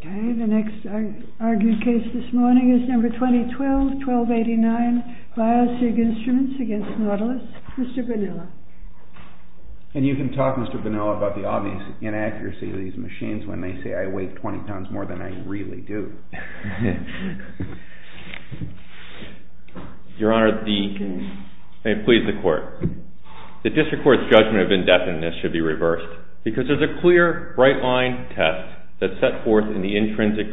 Okay, the next argued case this morning is number 2012-1289, BIOSIG INSTRUMENTS v. NAUTILUS. Mr. Bonilla. And you can talk, Mr. Bonilla, about the obvious inaccuracy of these machines when they say, I weigh 20 pounds more than I really do. Your Honor, the... May it please the Court. The District Court's judgment of indefiniteness should be reversed because there's a clear, right-line test that's set forth in the intrinsic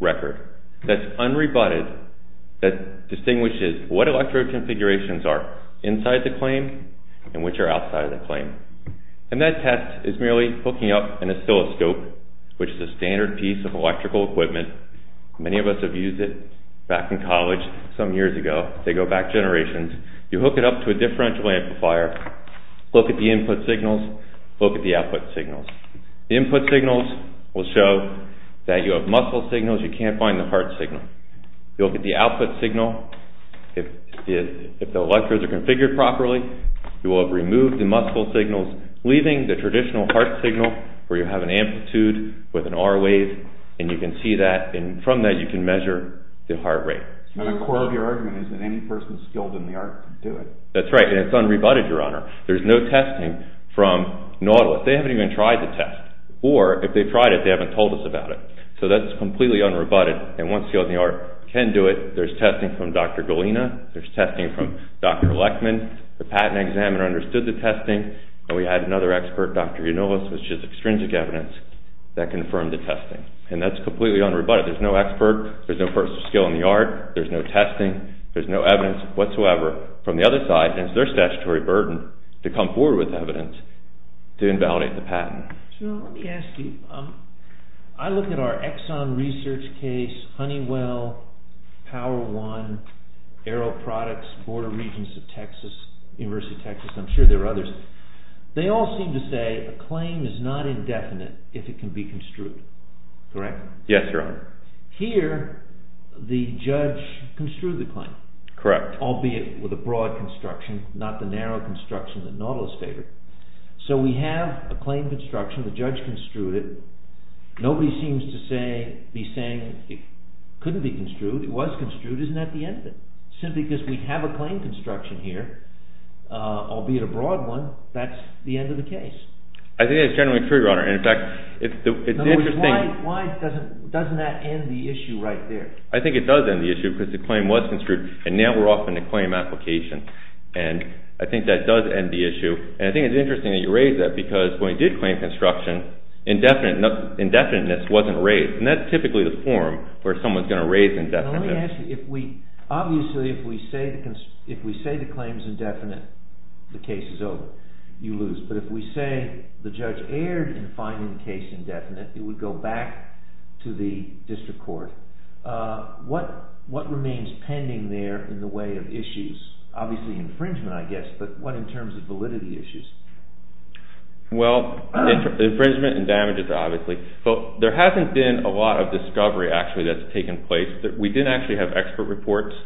record that's unrebutted, that distinguishes what electrode configurations are inside the claim and which are outside of the claim. And that test is merely hooking up an oscilloscope, which is a standard piece of electrical equipment. Many of us have used it back in college some years ago. They go back generations. You hook it up to a differential amplifier, look at the input signals, look at the output signals. The input signals will show that you have muscle signals, you can't find the heart signal. You look at the output signal, if the electrodes are configured properly, you will have removed the muscle signals, leaving the traditional heart signal where you have an amplitude with an R-wave, and you can see that, and from that you can measure the heart rate. And the core of your argument is that any person skilled in the arts can do it. That's right, and it's unrebutted, Your Honor. There's no testing from Nautilus. They haven't even tried the test, or if they tried it, they haven't told us about it. So that's completely unrebutted, and once skilled in the arts can do it, there's testing from Dr. Golina, there's testing from Dr. Leckman. The patent examiner understood the testing, and we had another expert, Dr. Yunalus, which is extrinsic evidence, that confirmed the testing. And that's completely unrebutted. There's no expert, there's no person skilled in the arts, there's no testing, there's no evidence whatsoever. From the other side, it's their statutory burden to come forward with evidence to invalidate the patent. So let me ask you, I look at our Exxon research case, Honeywell, Power One, Aero Products, Board of Regents of Texas, University of Texas, I'm sure there are others. They all seem to say a claim is not indefinite if it can be construed. Correct? Yes, Your Honor. Here, the judge construed the claim. Correct. Albeit with a broad construction, not the narrow construction that Nautilus favored. So we have a claim construction, the judge construed it. Nobody seems to be saying it couldn't be construed. It was construed, isn't that the end of it? Simply because we have a claim construction here, albeit a broad one, that's the end of the case. I think that's generally true, Your Honor. In fact, it's interesting. In other words, why doesn't that end the issue right there? I think it does end the issue because the claim was construed, and now we're off in the claim application. And I think that does end the issue. And I think it's interesting that you raise that because when we did claim construction, indefiniteness wasn't raised. And that's typically the form where someone's going to raise indefiniteness. Now let me ask you, obviously if we say the claim is indefinite, the case is over. You lose. But if we say the judge erred in finding the case indefinite, it would go back to the district court. What remains pending there in the way of issues? Obviously infringement, I guess, but what in terms of validity issues? Well, infringement and damages, obviously. But there hasn't been a lot of discovery, actually, that's taken place. We didn't actually have expert reports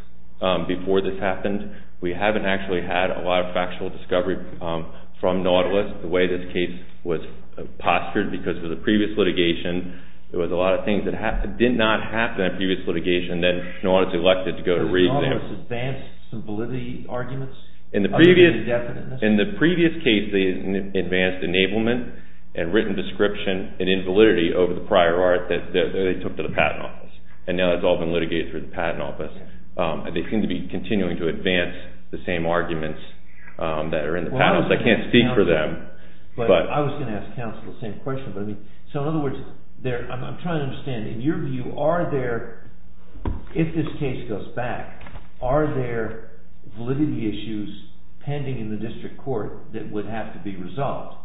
before this happened. We haven't actually had a lot of factual discovery from Nautilus, the way this case was postured because of the previous litigation. There was a lot of things that did not happen in the previous litigation. Then Nautilus elected to go to reexample. Has Nautilus advanced some validity arguments? In the previous case, they advanced enablement and written description and invalidity over the prior art that they took to the Patent Office. And now that's all been litigated through the Patent Office. They seem to be continuing to advance the same arguments that are in the Patent Office. I can't speak for them. I was going to ask counsel the same question. So in other words, I'm trying to understand. In your view, if this case goes back, are there validity issues pending in the district court that would have to be resolved?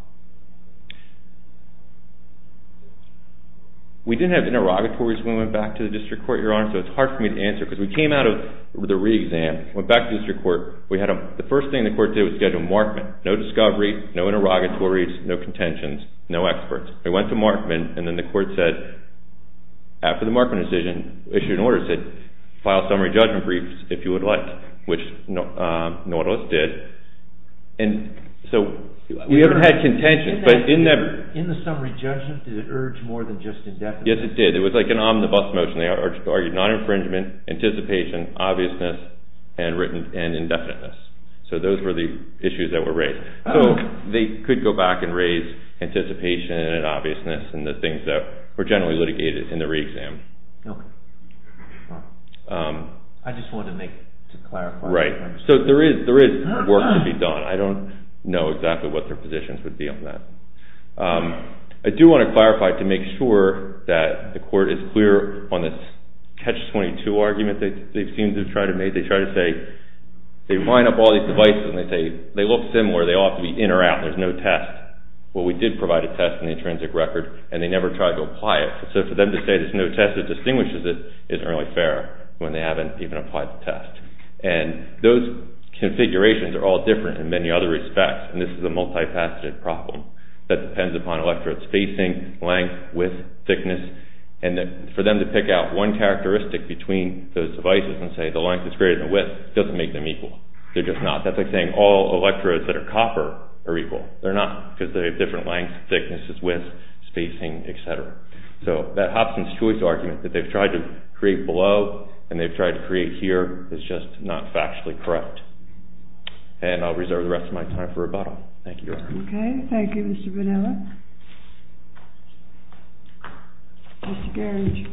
We didn't have interrogatories when we went back to the district court, Your Honor, so it's hard for me to answer because we came out of the reexam, went back to the district court. The first thing the court did was schedule a markment. No discovery, no interrogatories, no contentions, no experts. We went to markment, and then the court said, after the markment decision, issued an order, said file summary judgment briefs if you would like, which Nautilus did. So we haven't had contentions. In the summary judgment, did it urge more than just indefiniteness? Yes, it did. It was like an omnibus motion. They argued non-infringement, anticipation, obviousness, and indefiniteness. So those were the issues that were raised. So they could go back and raise anticipation and obviousness and the things that were generally litigated in the reexam. Okay. I just wanted to clarify. Right. So there is work to be done. I don't know exactly what their positions would be on that. I do want to clarify to make sure that the court is clear on this catch-22 argument that they seem to try to make, they try to say, they line up all these devices and they say they look similar, they ought to be in or out, there's no test. Well, we did provide a test in the intrinsic record, and they never tried to apply it. So for them to say there's no test that distinguishes it isn't really fair when they haven't even applied the test. And those configurations are all different in many other respects, and this is a multi-faceted problem that depends upon electrodes, spacing, length, width, thickness. And for them to pick out one characteristic between those devices and say the length is greater than the width doesn't make them equal. They're just not. That's like saying all electrodes that are copper are equal. They're not because they have different lengths, thicknesses, widths, spacing, etc. So that Hobson's Choice argument that they've tried to create below and they've tried to create here is just not factually correct. And I'll reserve the rest of my time for rebuttal. Thank you, Your Honor. Okay. Thank you, Mr. Bonilla. Mr. Garinger.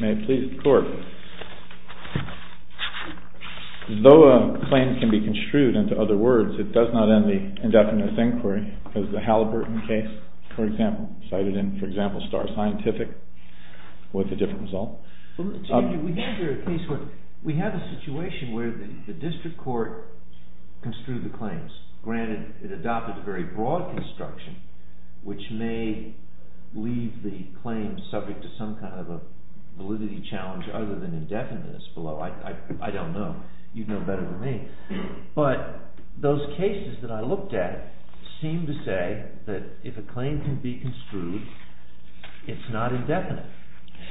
May it please the Court. Though a claim can be construed into other words, it does not end the indefinite inquiry as the Halliburton case, for example, cited in, for example, Star Scientific with a different result. We have a situation where the district court construed the claims. Granted, it adopted a very broad construction which may leave the claim subject to some kind of a validity challenge other than indefiniteness below. I don't know. You'd know better than me. But those cases that I looked at seem to say that if a claim can be construed, it's not indefinite.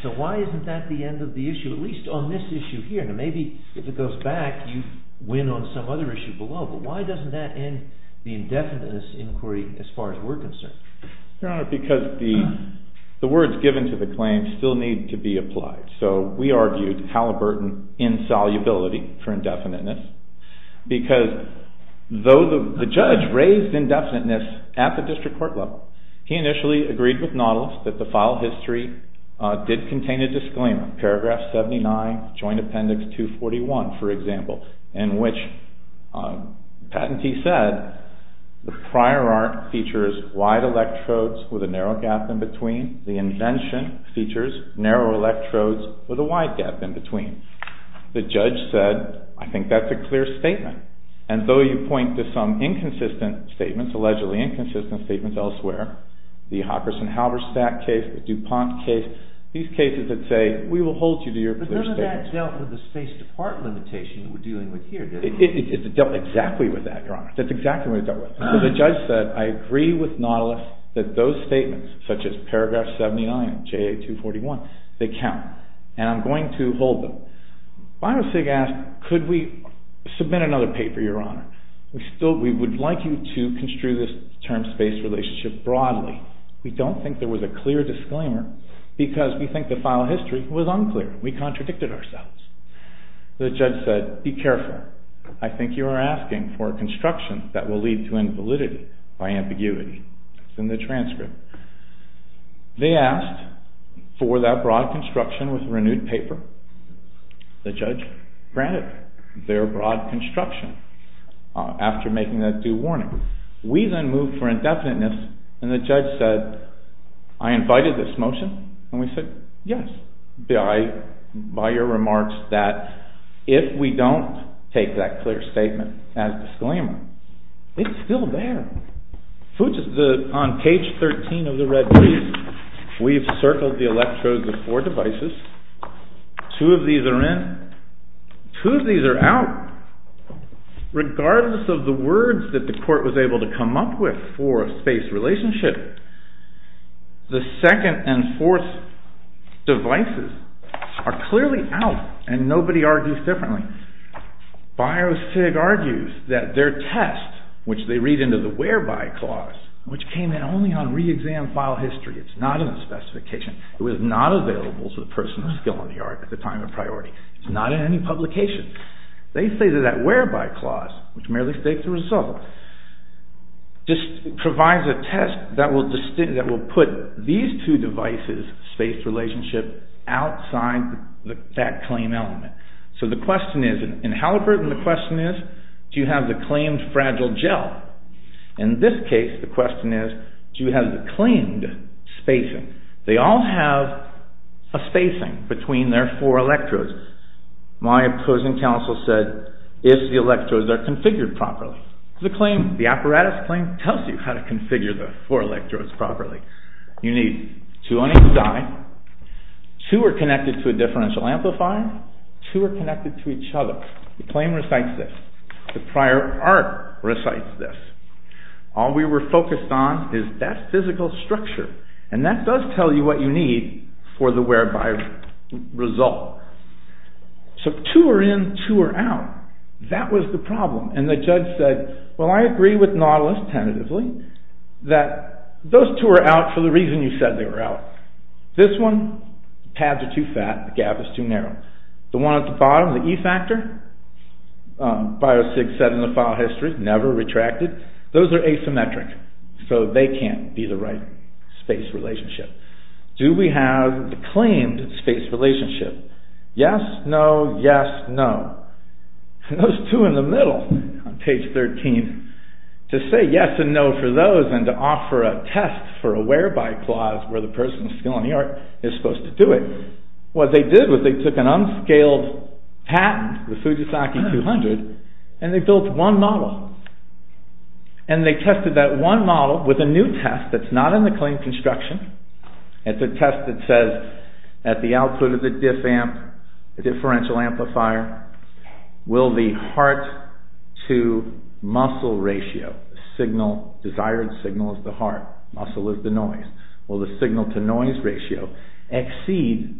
So why isn't that the end of the issue, at least on this issue here? Now maybe if it goes back, you'd win on some other issue below, but why doesn't that end the indefiniteness inquiry as far as we're concerned? Your Honor, because the words given to the claim still need to be applied. So we argued Halliburton insolubility for indefiniteness because though the judge raised indefiniteness at the district court level, he initially agreed with Nautilus that the file history did contain a disclaimer, paragraph 79, joint appendix 241, for example, in which the patentee said the prior art features wide electrodes with a narrow gap in between. The invention features narrow electrodes with a wide gap in between. The judge said, I think that's a clear statement. And though you point to some inconsistent statements, allegedly inconsistent statements elsewhere, the Hockerson-Halberstadt case, the DuPont case, these cases that say we will hold you to your clear statements. But none of that dealt with the space to part limitation we're dealing with here, did it? It dealt exactly with that, Your Honor. That's exactly what it dealt with. The judge said, I agree with Nautilus that those statements, such as paragraph 79 of JA241, they count, and I'm going to hold them. Biosig asked, could we submit another paper, Your Honor? We would like you to construe this term space relationship broadly. We don't think there was a clear disclaimer because we think the file history was unclear. We contradicted ourselves. The judge said, be careful. I think you are asking for a construction that will lead to invalidity by ambiguity. It's in the transcript. They asked for that broad construction with renewed paper. The judge granted their broad construction after making that due warning. We then moved for indefiniteness, and the judge said, I invited this motion, and we said, yes, by your remarks, that if we don't take that clear statement as disclaimer, it's still there. On page 13 of the red piece, we've circled the electrodes of four devices. Two of these are in. Two of these are out. Regardless of the words that the court was able to come up with for a space relationship, the second and fourth devices are clearly out, and nobody argues differently. Biosig argues that their test, which they read into the whereby clause, which came in only on reexam file history, it's not in the specification. It was not available to the person still in New York at the time of priority. It's not in any publication. They say that that whereby clause, which merely states the result, just provides a test that will put these two devices' space relationship outside that claim element. So the question is, in Haliburton, the question is, do you have the claimed fragile gel? In this case, the question is, do you have the claimed spacing? They all have a spacing between their four electrodes. My opposing counsel said, if the electrodes are configured properly. The claim, the apparatus claim, tells you how to configure the four electrodes properly. You need two on each side. Two are connected to a differential amplifier. Two are connected to each other. The claim recites this. The prior art recites this. All we were focused on is that physical structure, and that does tell you what you need for the whereby result. So two are in, two are out. That was the problem, and the judge said, well, I agree with Nautilus tentatively that those two are out for the reason you said they were out. This one, the tabs are too fat, the gap is too narrow. The one at the bottom, the e-factor, BioSIG said in the file history, never retracted. Those are asymmetric, so they can't be the right space relationship. Do we have the claimed space relationship? Yes, no, yes, no. Those two in the middle, on page 13, to say yes and no for those and to offer a test for a whereby clause where the person's skill in the art is supposed to do it, what they did was they took an unscaled patent, the Fujisaki 200, and they built one model, and they tested that one model with a new test that's not in the claim construction. It's a test that says, at the output of the differential amplifier, will the heart-to-muscle ratio, desired signal is the heart, muscle is the noise, will the signal-to-noise ratio exceed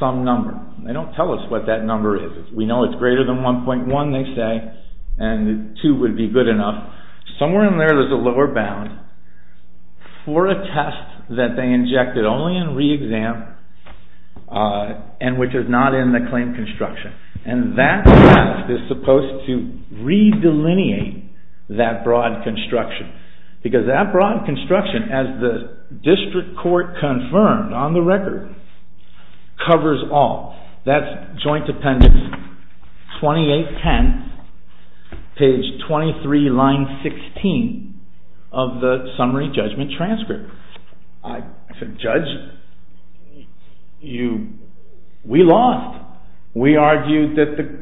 some number? They don't tell us what that number is. We know it's greater than 1.1, they say, and 2 would be good enough. Somewhere in there, there's a lower bound for a test that they injected only in re-exam and which is not in the claim construction, and that test is supposed to re-delineate that broad construction because that broad construction, as the district court confirmed on the record, covers all. That's Joint Appendix 2810, page 23, line 16 of the summary judgment transcript. I said, Judge, we lost. We argued that there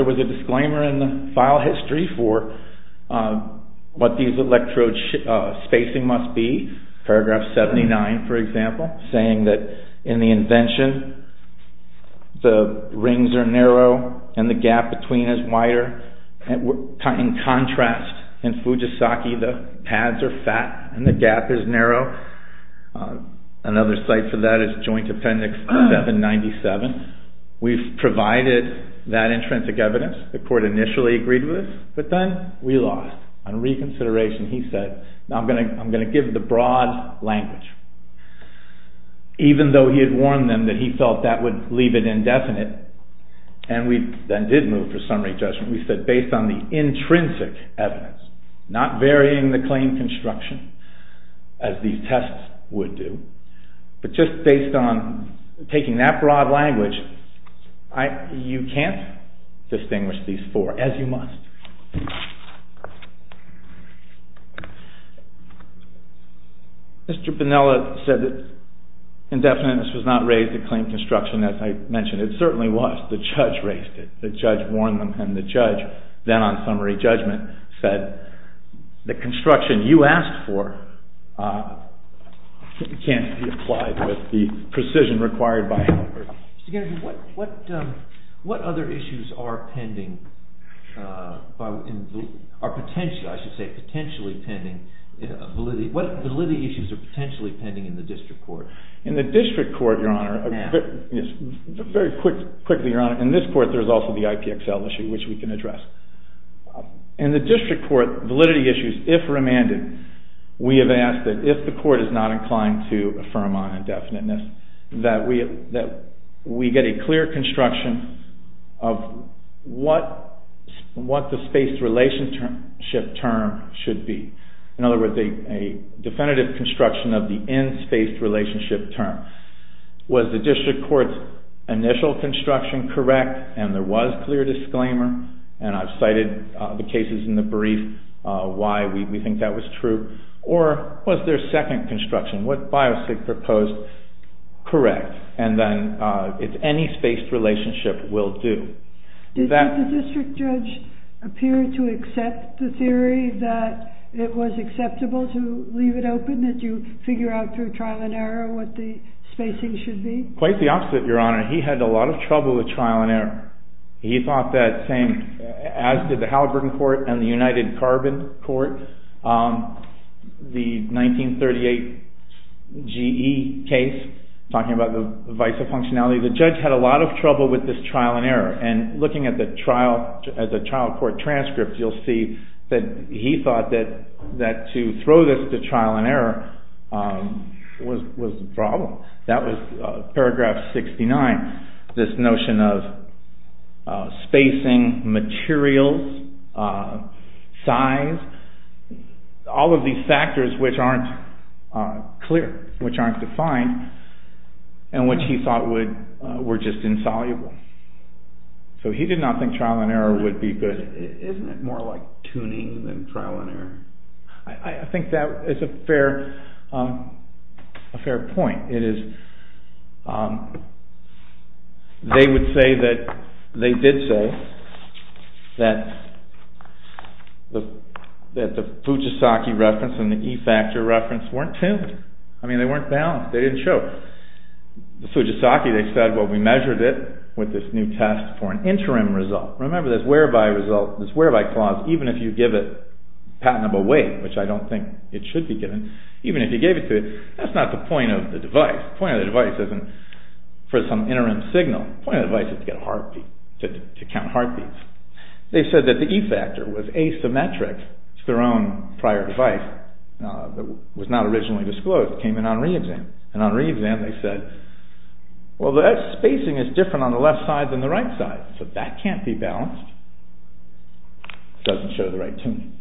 was a disclaimer in the file history for what these electrode spacing must be, paragraph 79, for example, saying that in the invention, the rings are narrow and the gap between is wider. In contrast, in Fujisaki, the pads are fat and the gap is narrow. Another site for that is Joint Appendix 797. We've provided that intrinsic evidence the court initially agreed with, but then we lost. On reconsideration, he said, I'm going to give the broad language, even though he had warned them that he felt that would leave it indefinite, and we then did move to summary judgment. We said, based on the intrinsic evidence, not varying the claim construction, as these tests would do, but just based on taking that broad language, you can't distinguish these four, as you must. Mr. Bonilla said that indefiniteness was not raised to claim construction, as I mentioned. It certainly was. The judge raised it. The judge warned them, and the judge, then on summary judgment, said the construction you asked for can't be applied with the precision required by Hanford. What other issues are potentially pending? What validity issues are potentially pending in the district court? In the district court, Your Honor, very quickly, Your Honor, in this court there's also the IPXL issue, which we can address. In the district court, validity issues, if remanded, we have asked that if the court is not inclined to affirm on indefiniteness, that we get a clear construction of what the spaced relationship term should be. In other words, a definitive construction of the in-spaced relationship term. Was the district court's initial construction correct, and there was clear disclaimer, and I've cited the cases in the brief, why we think that was true, or was there a second construction? What Biosig proposed, correct. And then it's any spaced relationship will do. Did the district judge appear to accept the theory that it was acceptable to leave it open, that you figure out through trial and error what the spacing should be? Quite the opposite, Your Honor. He had a lot of trouble with trial and error. He thought that, as did the Halliburton Court and the United Carbon Court, the 1938 GE case, talking about the vice of functionality, the judge had a lot of trouble with this trial and error. And looking at the trial court transcript, you'll see that he thought that was paragraph 69, this notion of spacing, materials, size, all of these factors which aren't clear, which aren't defined, and which he thought were just insoluble. So he did not think trial and error would be good. Isn't it more like tuning than trial and error? I think that is a fair point. They did say that the Fujisaki reference and the E-factor reference weren't tuned. I mean, they weren't balanced. They didn't show. The Fujisaki, they said, well, we measured it with this new test for an interim result. Remember, this where-by result, this where-by clause, even if you give it a patentable weight, which I don't think it should be given, even if you gave it to it, that's not the point of the device. The point of the device isn't for some interim signal. The point of the device is to get a heartbeat, to count heartbeats. They said that the E-factor was asymmetric to their own prior device that was not originally disclosed. It came in on re-exam. And on re-exam they said, well, the spacing is different on the left side than the right side. So that can't be balanced. It doesn't show the right tuning.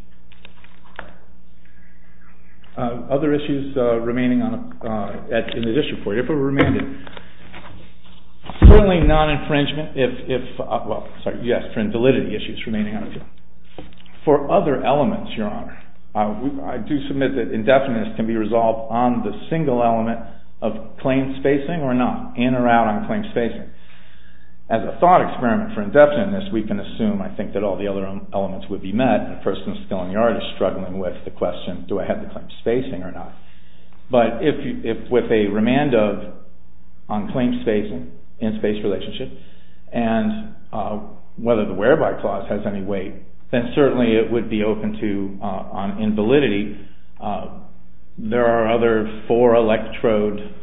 Other issues remaining in this report. If there were remaining, certainly non-infringement, if-well, sorry, validity issues remaining. For other elements, Your Honor, I do submit that indefiniteness can be resolved on the single element of claim spacing or not, in or out on claim spacing. As a thought experiment for indefiniteness, we can assume, I think, that all the other elements would be met. The person still in the yard is struggling with the question, do I have the claim spacing or not? But if with a remand of on claim spacing in space relationship and whether the whereby clause has any weight, then certainly it would be open to on invalidity. There are other four electrode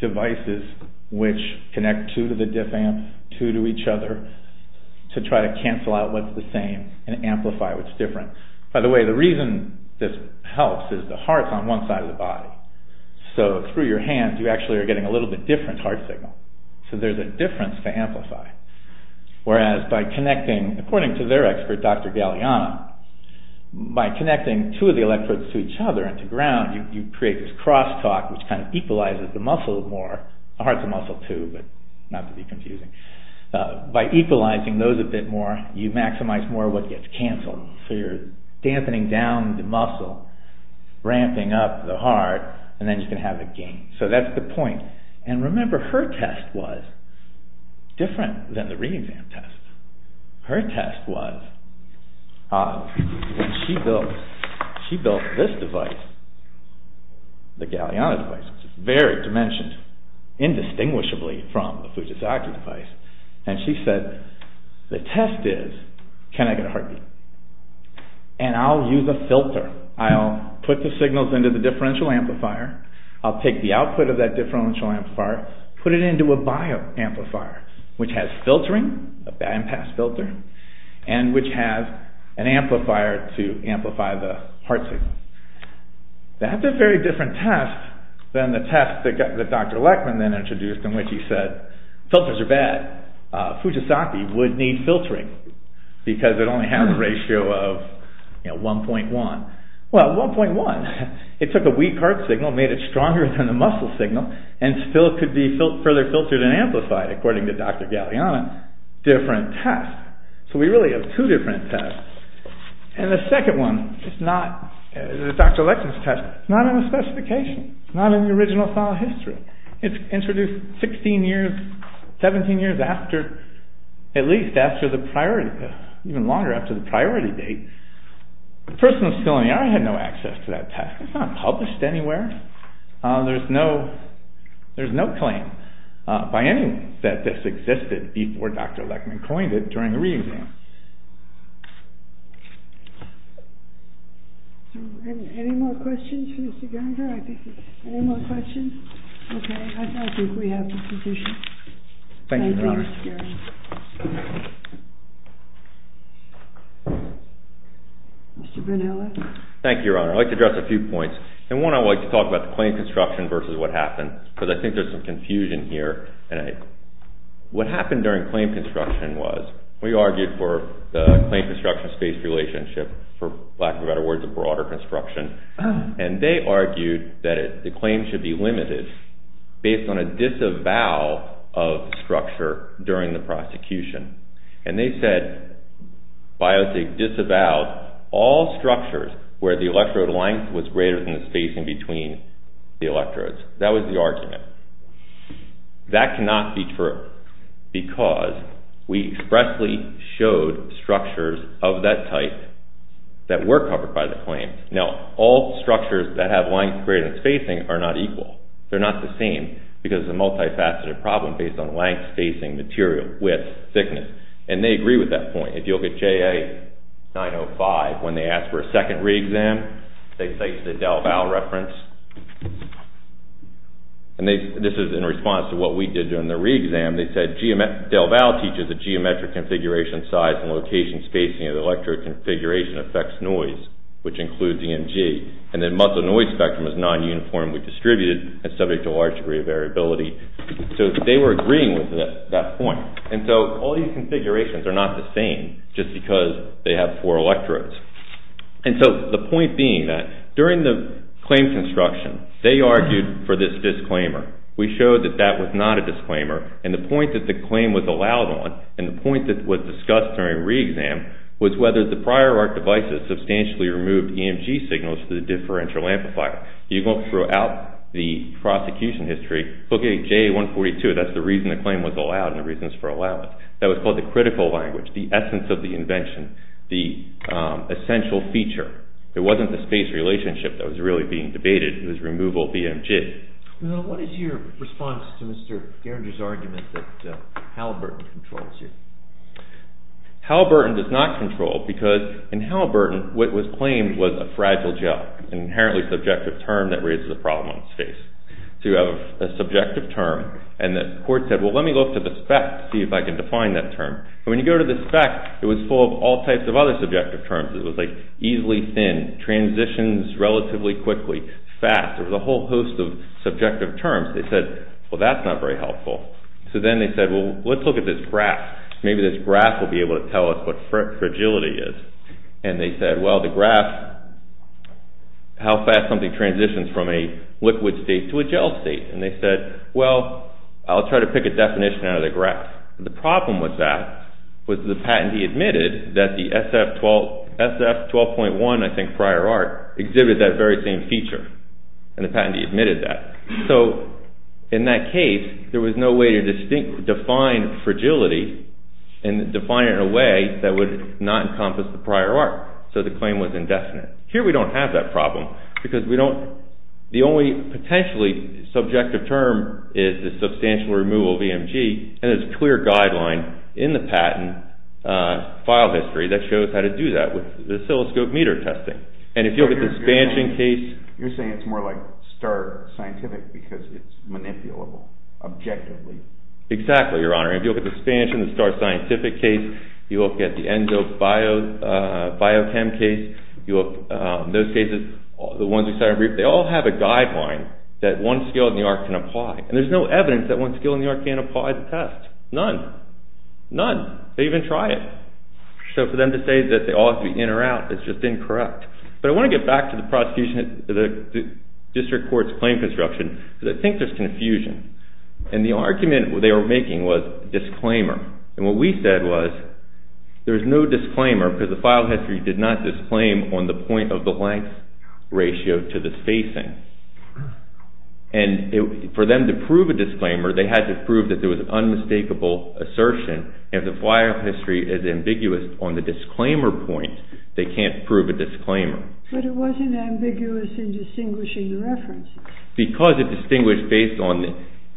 devices which connect two to the diff amp, two to each other, to try to cancel out what's the same and amplify what's different. By the way, the reason this helps is the heart's on one side of the body. So through your hands you actually are getting a little bit different heart signal. So there's a difference to amplify. Whereas by connecting, according to their expert, Dr. Galliano, by connecting two of the electrodes to each other and to ground, you create this crosstalk which kind of equalizes the muscle more. The heart's a muscle too, but not to be confusing. By equalizing those a bit more, you maximize more what gets canceled. So you're dampening down the muscle, ramping up the heart, and then you can have a gain. So that's the point. And remember her test was different than the re-exam test. Her test was when she built this device, the Galliano device, which is very dimensioned, indistinguishably from the Fujisaki device. And she said, the test is, can I get a heartbeat? And I'll use a filter. I'll put the signals into the differential amplifier. I'll take the output of that differential amplifier, put it into a bio-amplifier, which has filtering, a bypass filter, and which has an amplifier to amplify the heart signal. That's a very different test than the test that Dr. Leckman then introduced in which he said, filters are bad. Fujisaki would need filtering because it only has a ratio of 1.1. Well, 1.1, it took a weak heart signal, made it stronger than the muscle signal, and still could be further filtered and amplified, according to Dr. Galliano. Different test. So we really have two different tests. And the second one is not Dr. Leckman's test. It's not in the specification. It's not in the original file history. It's introduced 16 years, 17 years after, at least after the priority, even longer after the priority date. The person was still in the ER and had no access to that test. It's not published anywhere. There's no claim by anyone that this existed before Dr. Leckman coined it during the re-exam. Any more questions for Mr. Geringer? Any more questions? Okay. I think we have the position. Thank you, Your Honor. Thank you, Mr. Geringer. Mr. Bernelli. Thank you, Your Honor. I'd like to address a few points. And one, I'd like to talk about the claim construction versus what happened, because I think there's some confusion here. And what happened during claim construction was we argued for the claim construction space relationship, for lack of better words, a broader construction. And they argued that the claim should be limited based on a disavow of the structure during the prosecution. And they said biotech disavowed all structures where the electrode length was greater than the spacing between the electrodes. That was the argument. That cannot be true because we expressly showed structures of that type that were covered by the claim. Now, all structures that have length greater than spacing are not equal. They're not the same because it's a multifaceted problem based on length, spacing, material, width, thickness. And they agree with that point. If you look at JA905, when they asked for a second re-exam, they cite the DelVal reference. And this is in response to what we did during the re-exam. They said DelVal teaches that geometric configuration size and location spacing of the electrode configuration affects noise, which includes EMG. And that muscle noise spectrum is non-uniformly distributed and subject to a large degree of variability. So they were agreeing with that point. And so all these configurations are not the same just because they have four electrodes. And so the point being that during the claim construction, they argued for this disclaimer. We showed that that was not a disclaimer. And the point that the claim was allowed on and the point that was discussed during re-exam was whether the prior arc devices substantially removed EMG signals to the differential amplifier. You go throughout the prosecution history, look at JA142. That's the reason the claim was allowed and the reasons for allowing it. That was called the critical language, the essence of the invention, the essential feature. It wasn't the space relationship that was really being debated. It was removal of EMG. What is your response to Mr. Geringer's argument that Halliburton controls you? Halliburton does not control because in Halliburton, what was claimed was a fragile gel, an inherently subjective term that raises a problem in space. So you have a subjective term and the court said, well, let me look to the spec to see if I can define that term. And when you go to the spec, it was full of all types of other subjective terms. It was like easily thin, transitions relatively quickly, fast. There was a whole host of subjective terms. They said, well, that's not very helpful. So then they said, well, let's look at this graph. Maybe this graph will be able to tell us what fragility is. And they said, well, the graph, how fast something transitions from a liquid state to a gel state. And they said, well, I'll try to pick a definition out of the graph. The problem with that was the patentee admitted that the SF-12.1, I think prior art, exhibited that very same feature. And the patentee admitted that. So in that case, there was no way to define fragility and define it in a way that would not encompass the prior art. So the claim was indefinite. Here we don't have that problem because we don't, the only potentially subjective term is the substantial removal of EMG. And there's a clear guideline in the patent file history that shows how to do that with the oscilloscope meter testing. And if you look at the expansion case. You're saying it's more like star scientific because it's manipulable objectively. Exactly, Your Honor. If you look at the expansion, the star scientific case, if you look at the ENZO biochem case, those cases, the ones we started, they all have a guideline that one skill in the art can apply. And there's no evidence that one skill in the art can't apply the test. None. None. They even try it. So for them to say that they all have to be in or out is just incorrect. But I want to get back to the prosecution, the district court's claim construction because I think there's confusion. And the argument they were making was disclaimer. And what we said was there's no disclaimer because the file history did not disclaim on the point of the length ratio to the spacing. And for them to prove a disclaimer, they had to prove that there was an unmistakable assertion. And if the file history is ambiguous on the disclaimer point, they can't prove a disclaimer. But it wasn't ambiguous in distinguishing the references. Because it distinguished based on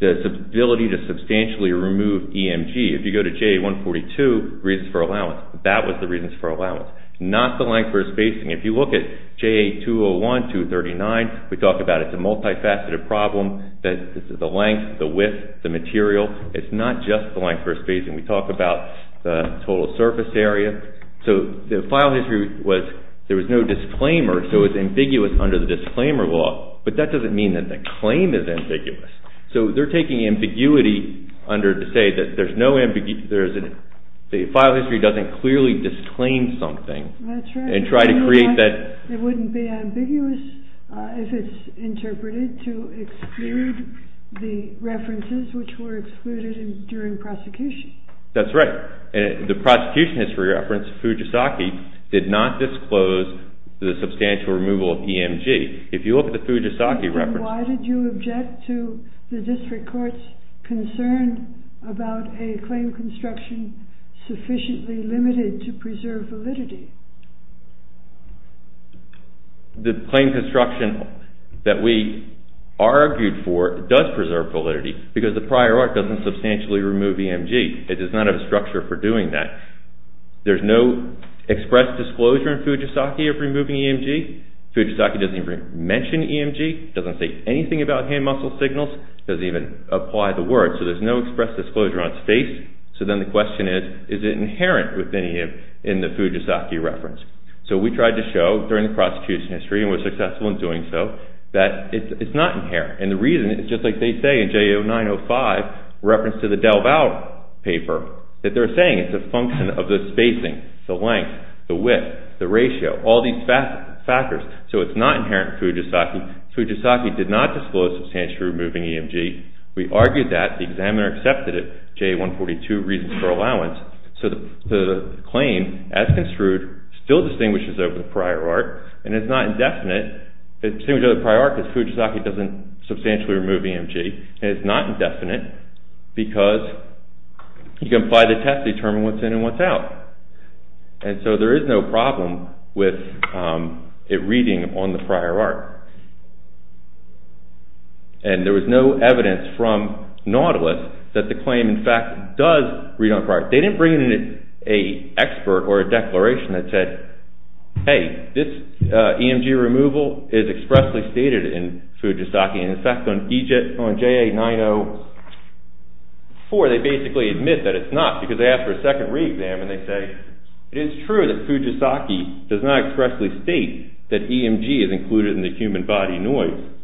the ability to substantially remove EMG. If you go to JA-142, reasons for allowance, that was the reasons for allowance. Not the length versus spacing. If you look at JA-201-239, we talk about it's a multifaceted problem. This is the length, the width, the material. It's not just the length versus spacing. We talk about the total surface area. So the file history was there was no disclaimer, so it was ambiguous under the disclaimer law. But that doesn't mean that the claim is ambiguous. So they're taking ambiguity under to say that there's no ambiguity. The file history doesn't clearly disclaim something. And try to create that. It wouldn't be ambiguous if it's interpreted to exclude the references which were excluded during prosecution. That's right. The prosecution history reference, Fujisaki, did not disclose the substantial removal of EMG. If you look at the Fujisaki reference. Then why did you object to the district court's concern about a claim construction sufficiently limited to preserve validity? The claim construction that we argued for does preserve validity because the prior art doesn't substantially remove EMG. It does not have a structure for doing that. There's no express disclosure in Fujisaki of removing EMG. Fujisaki doesn't even mention EMG. It doesn't say anything about hand muscle signals. It doesn't even apply the word. So there's no express disclosure on its face. So then the question is, is it inherent within the Fujisaki reference? So we tried to show during the prosecution history, and were successful in doing so, that it's not inherent. And the reason is just like they say in J0905, reference to the DelVal paper, that they're saying it's a function of the spacing, the length, the width, the ratio. All these factors. So it's not inherent in Fujisaki. Fujisaki did not disclose substantially removing EMG. We argued that. The examiner accepted it, J142, reasons for allowance. So the claim, as construed, still distinguishes over the prior art. And it's not indefinite. It distinguishes over the prior art because Fujisaki doesn't substantially remove EMG. And it's not indefinite because you can apply the test to determine what's in and what's out. And so there is no problem with it reading on the prior art. And there was no evidence from Nautilus that the claim, in fact, does read on prior art. They didn't bring in an expert or a declaration that said, hey, this EMG removal is expressly stated in Fujisaki. And in fact, on JA904, they basically admit that it's not because they ask for a second re-exam and they say, it is true that Fujisaki does not expressly state that EMG is included in the human body noise.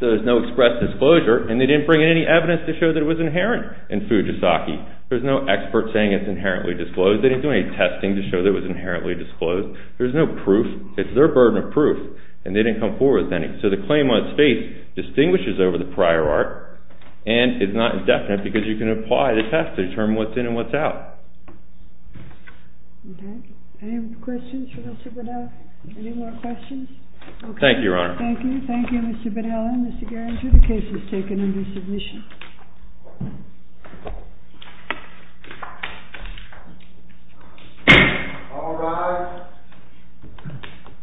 So there's no express disclosure. And they didn't bring in any evidence to show that it was inherent in Fujisaki. There's no expert saying it's inherently disclosed. They didn't do any testing to show that it was inherently disclosed. There's no proof. It's their burden of proof. And they didn't come forward with any. So the claim on its face distinguishes over the prior art. And it's not indefinite because you can apply the test to determine what's in and what's out. Okay. Any questions for Mr. Bedella? Any more questions? Okay. Thank you, Your Honor. Thank you. Thank you, Mr. Bedella and Mr. Garinger. The case is taken under submission. All rise.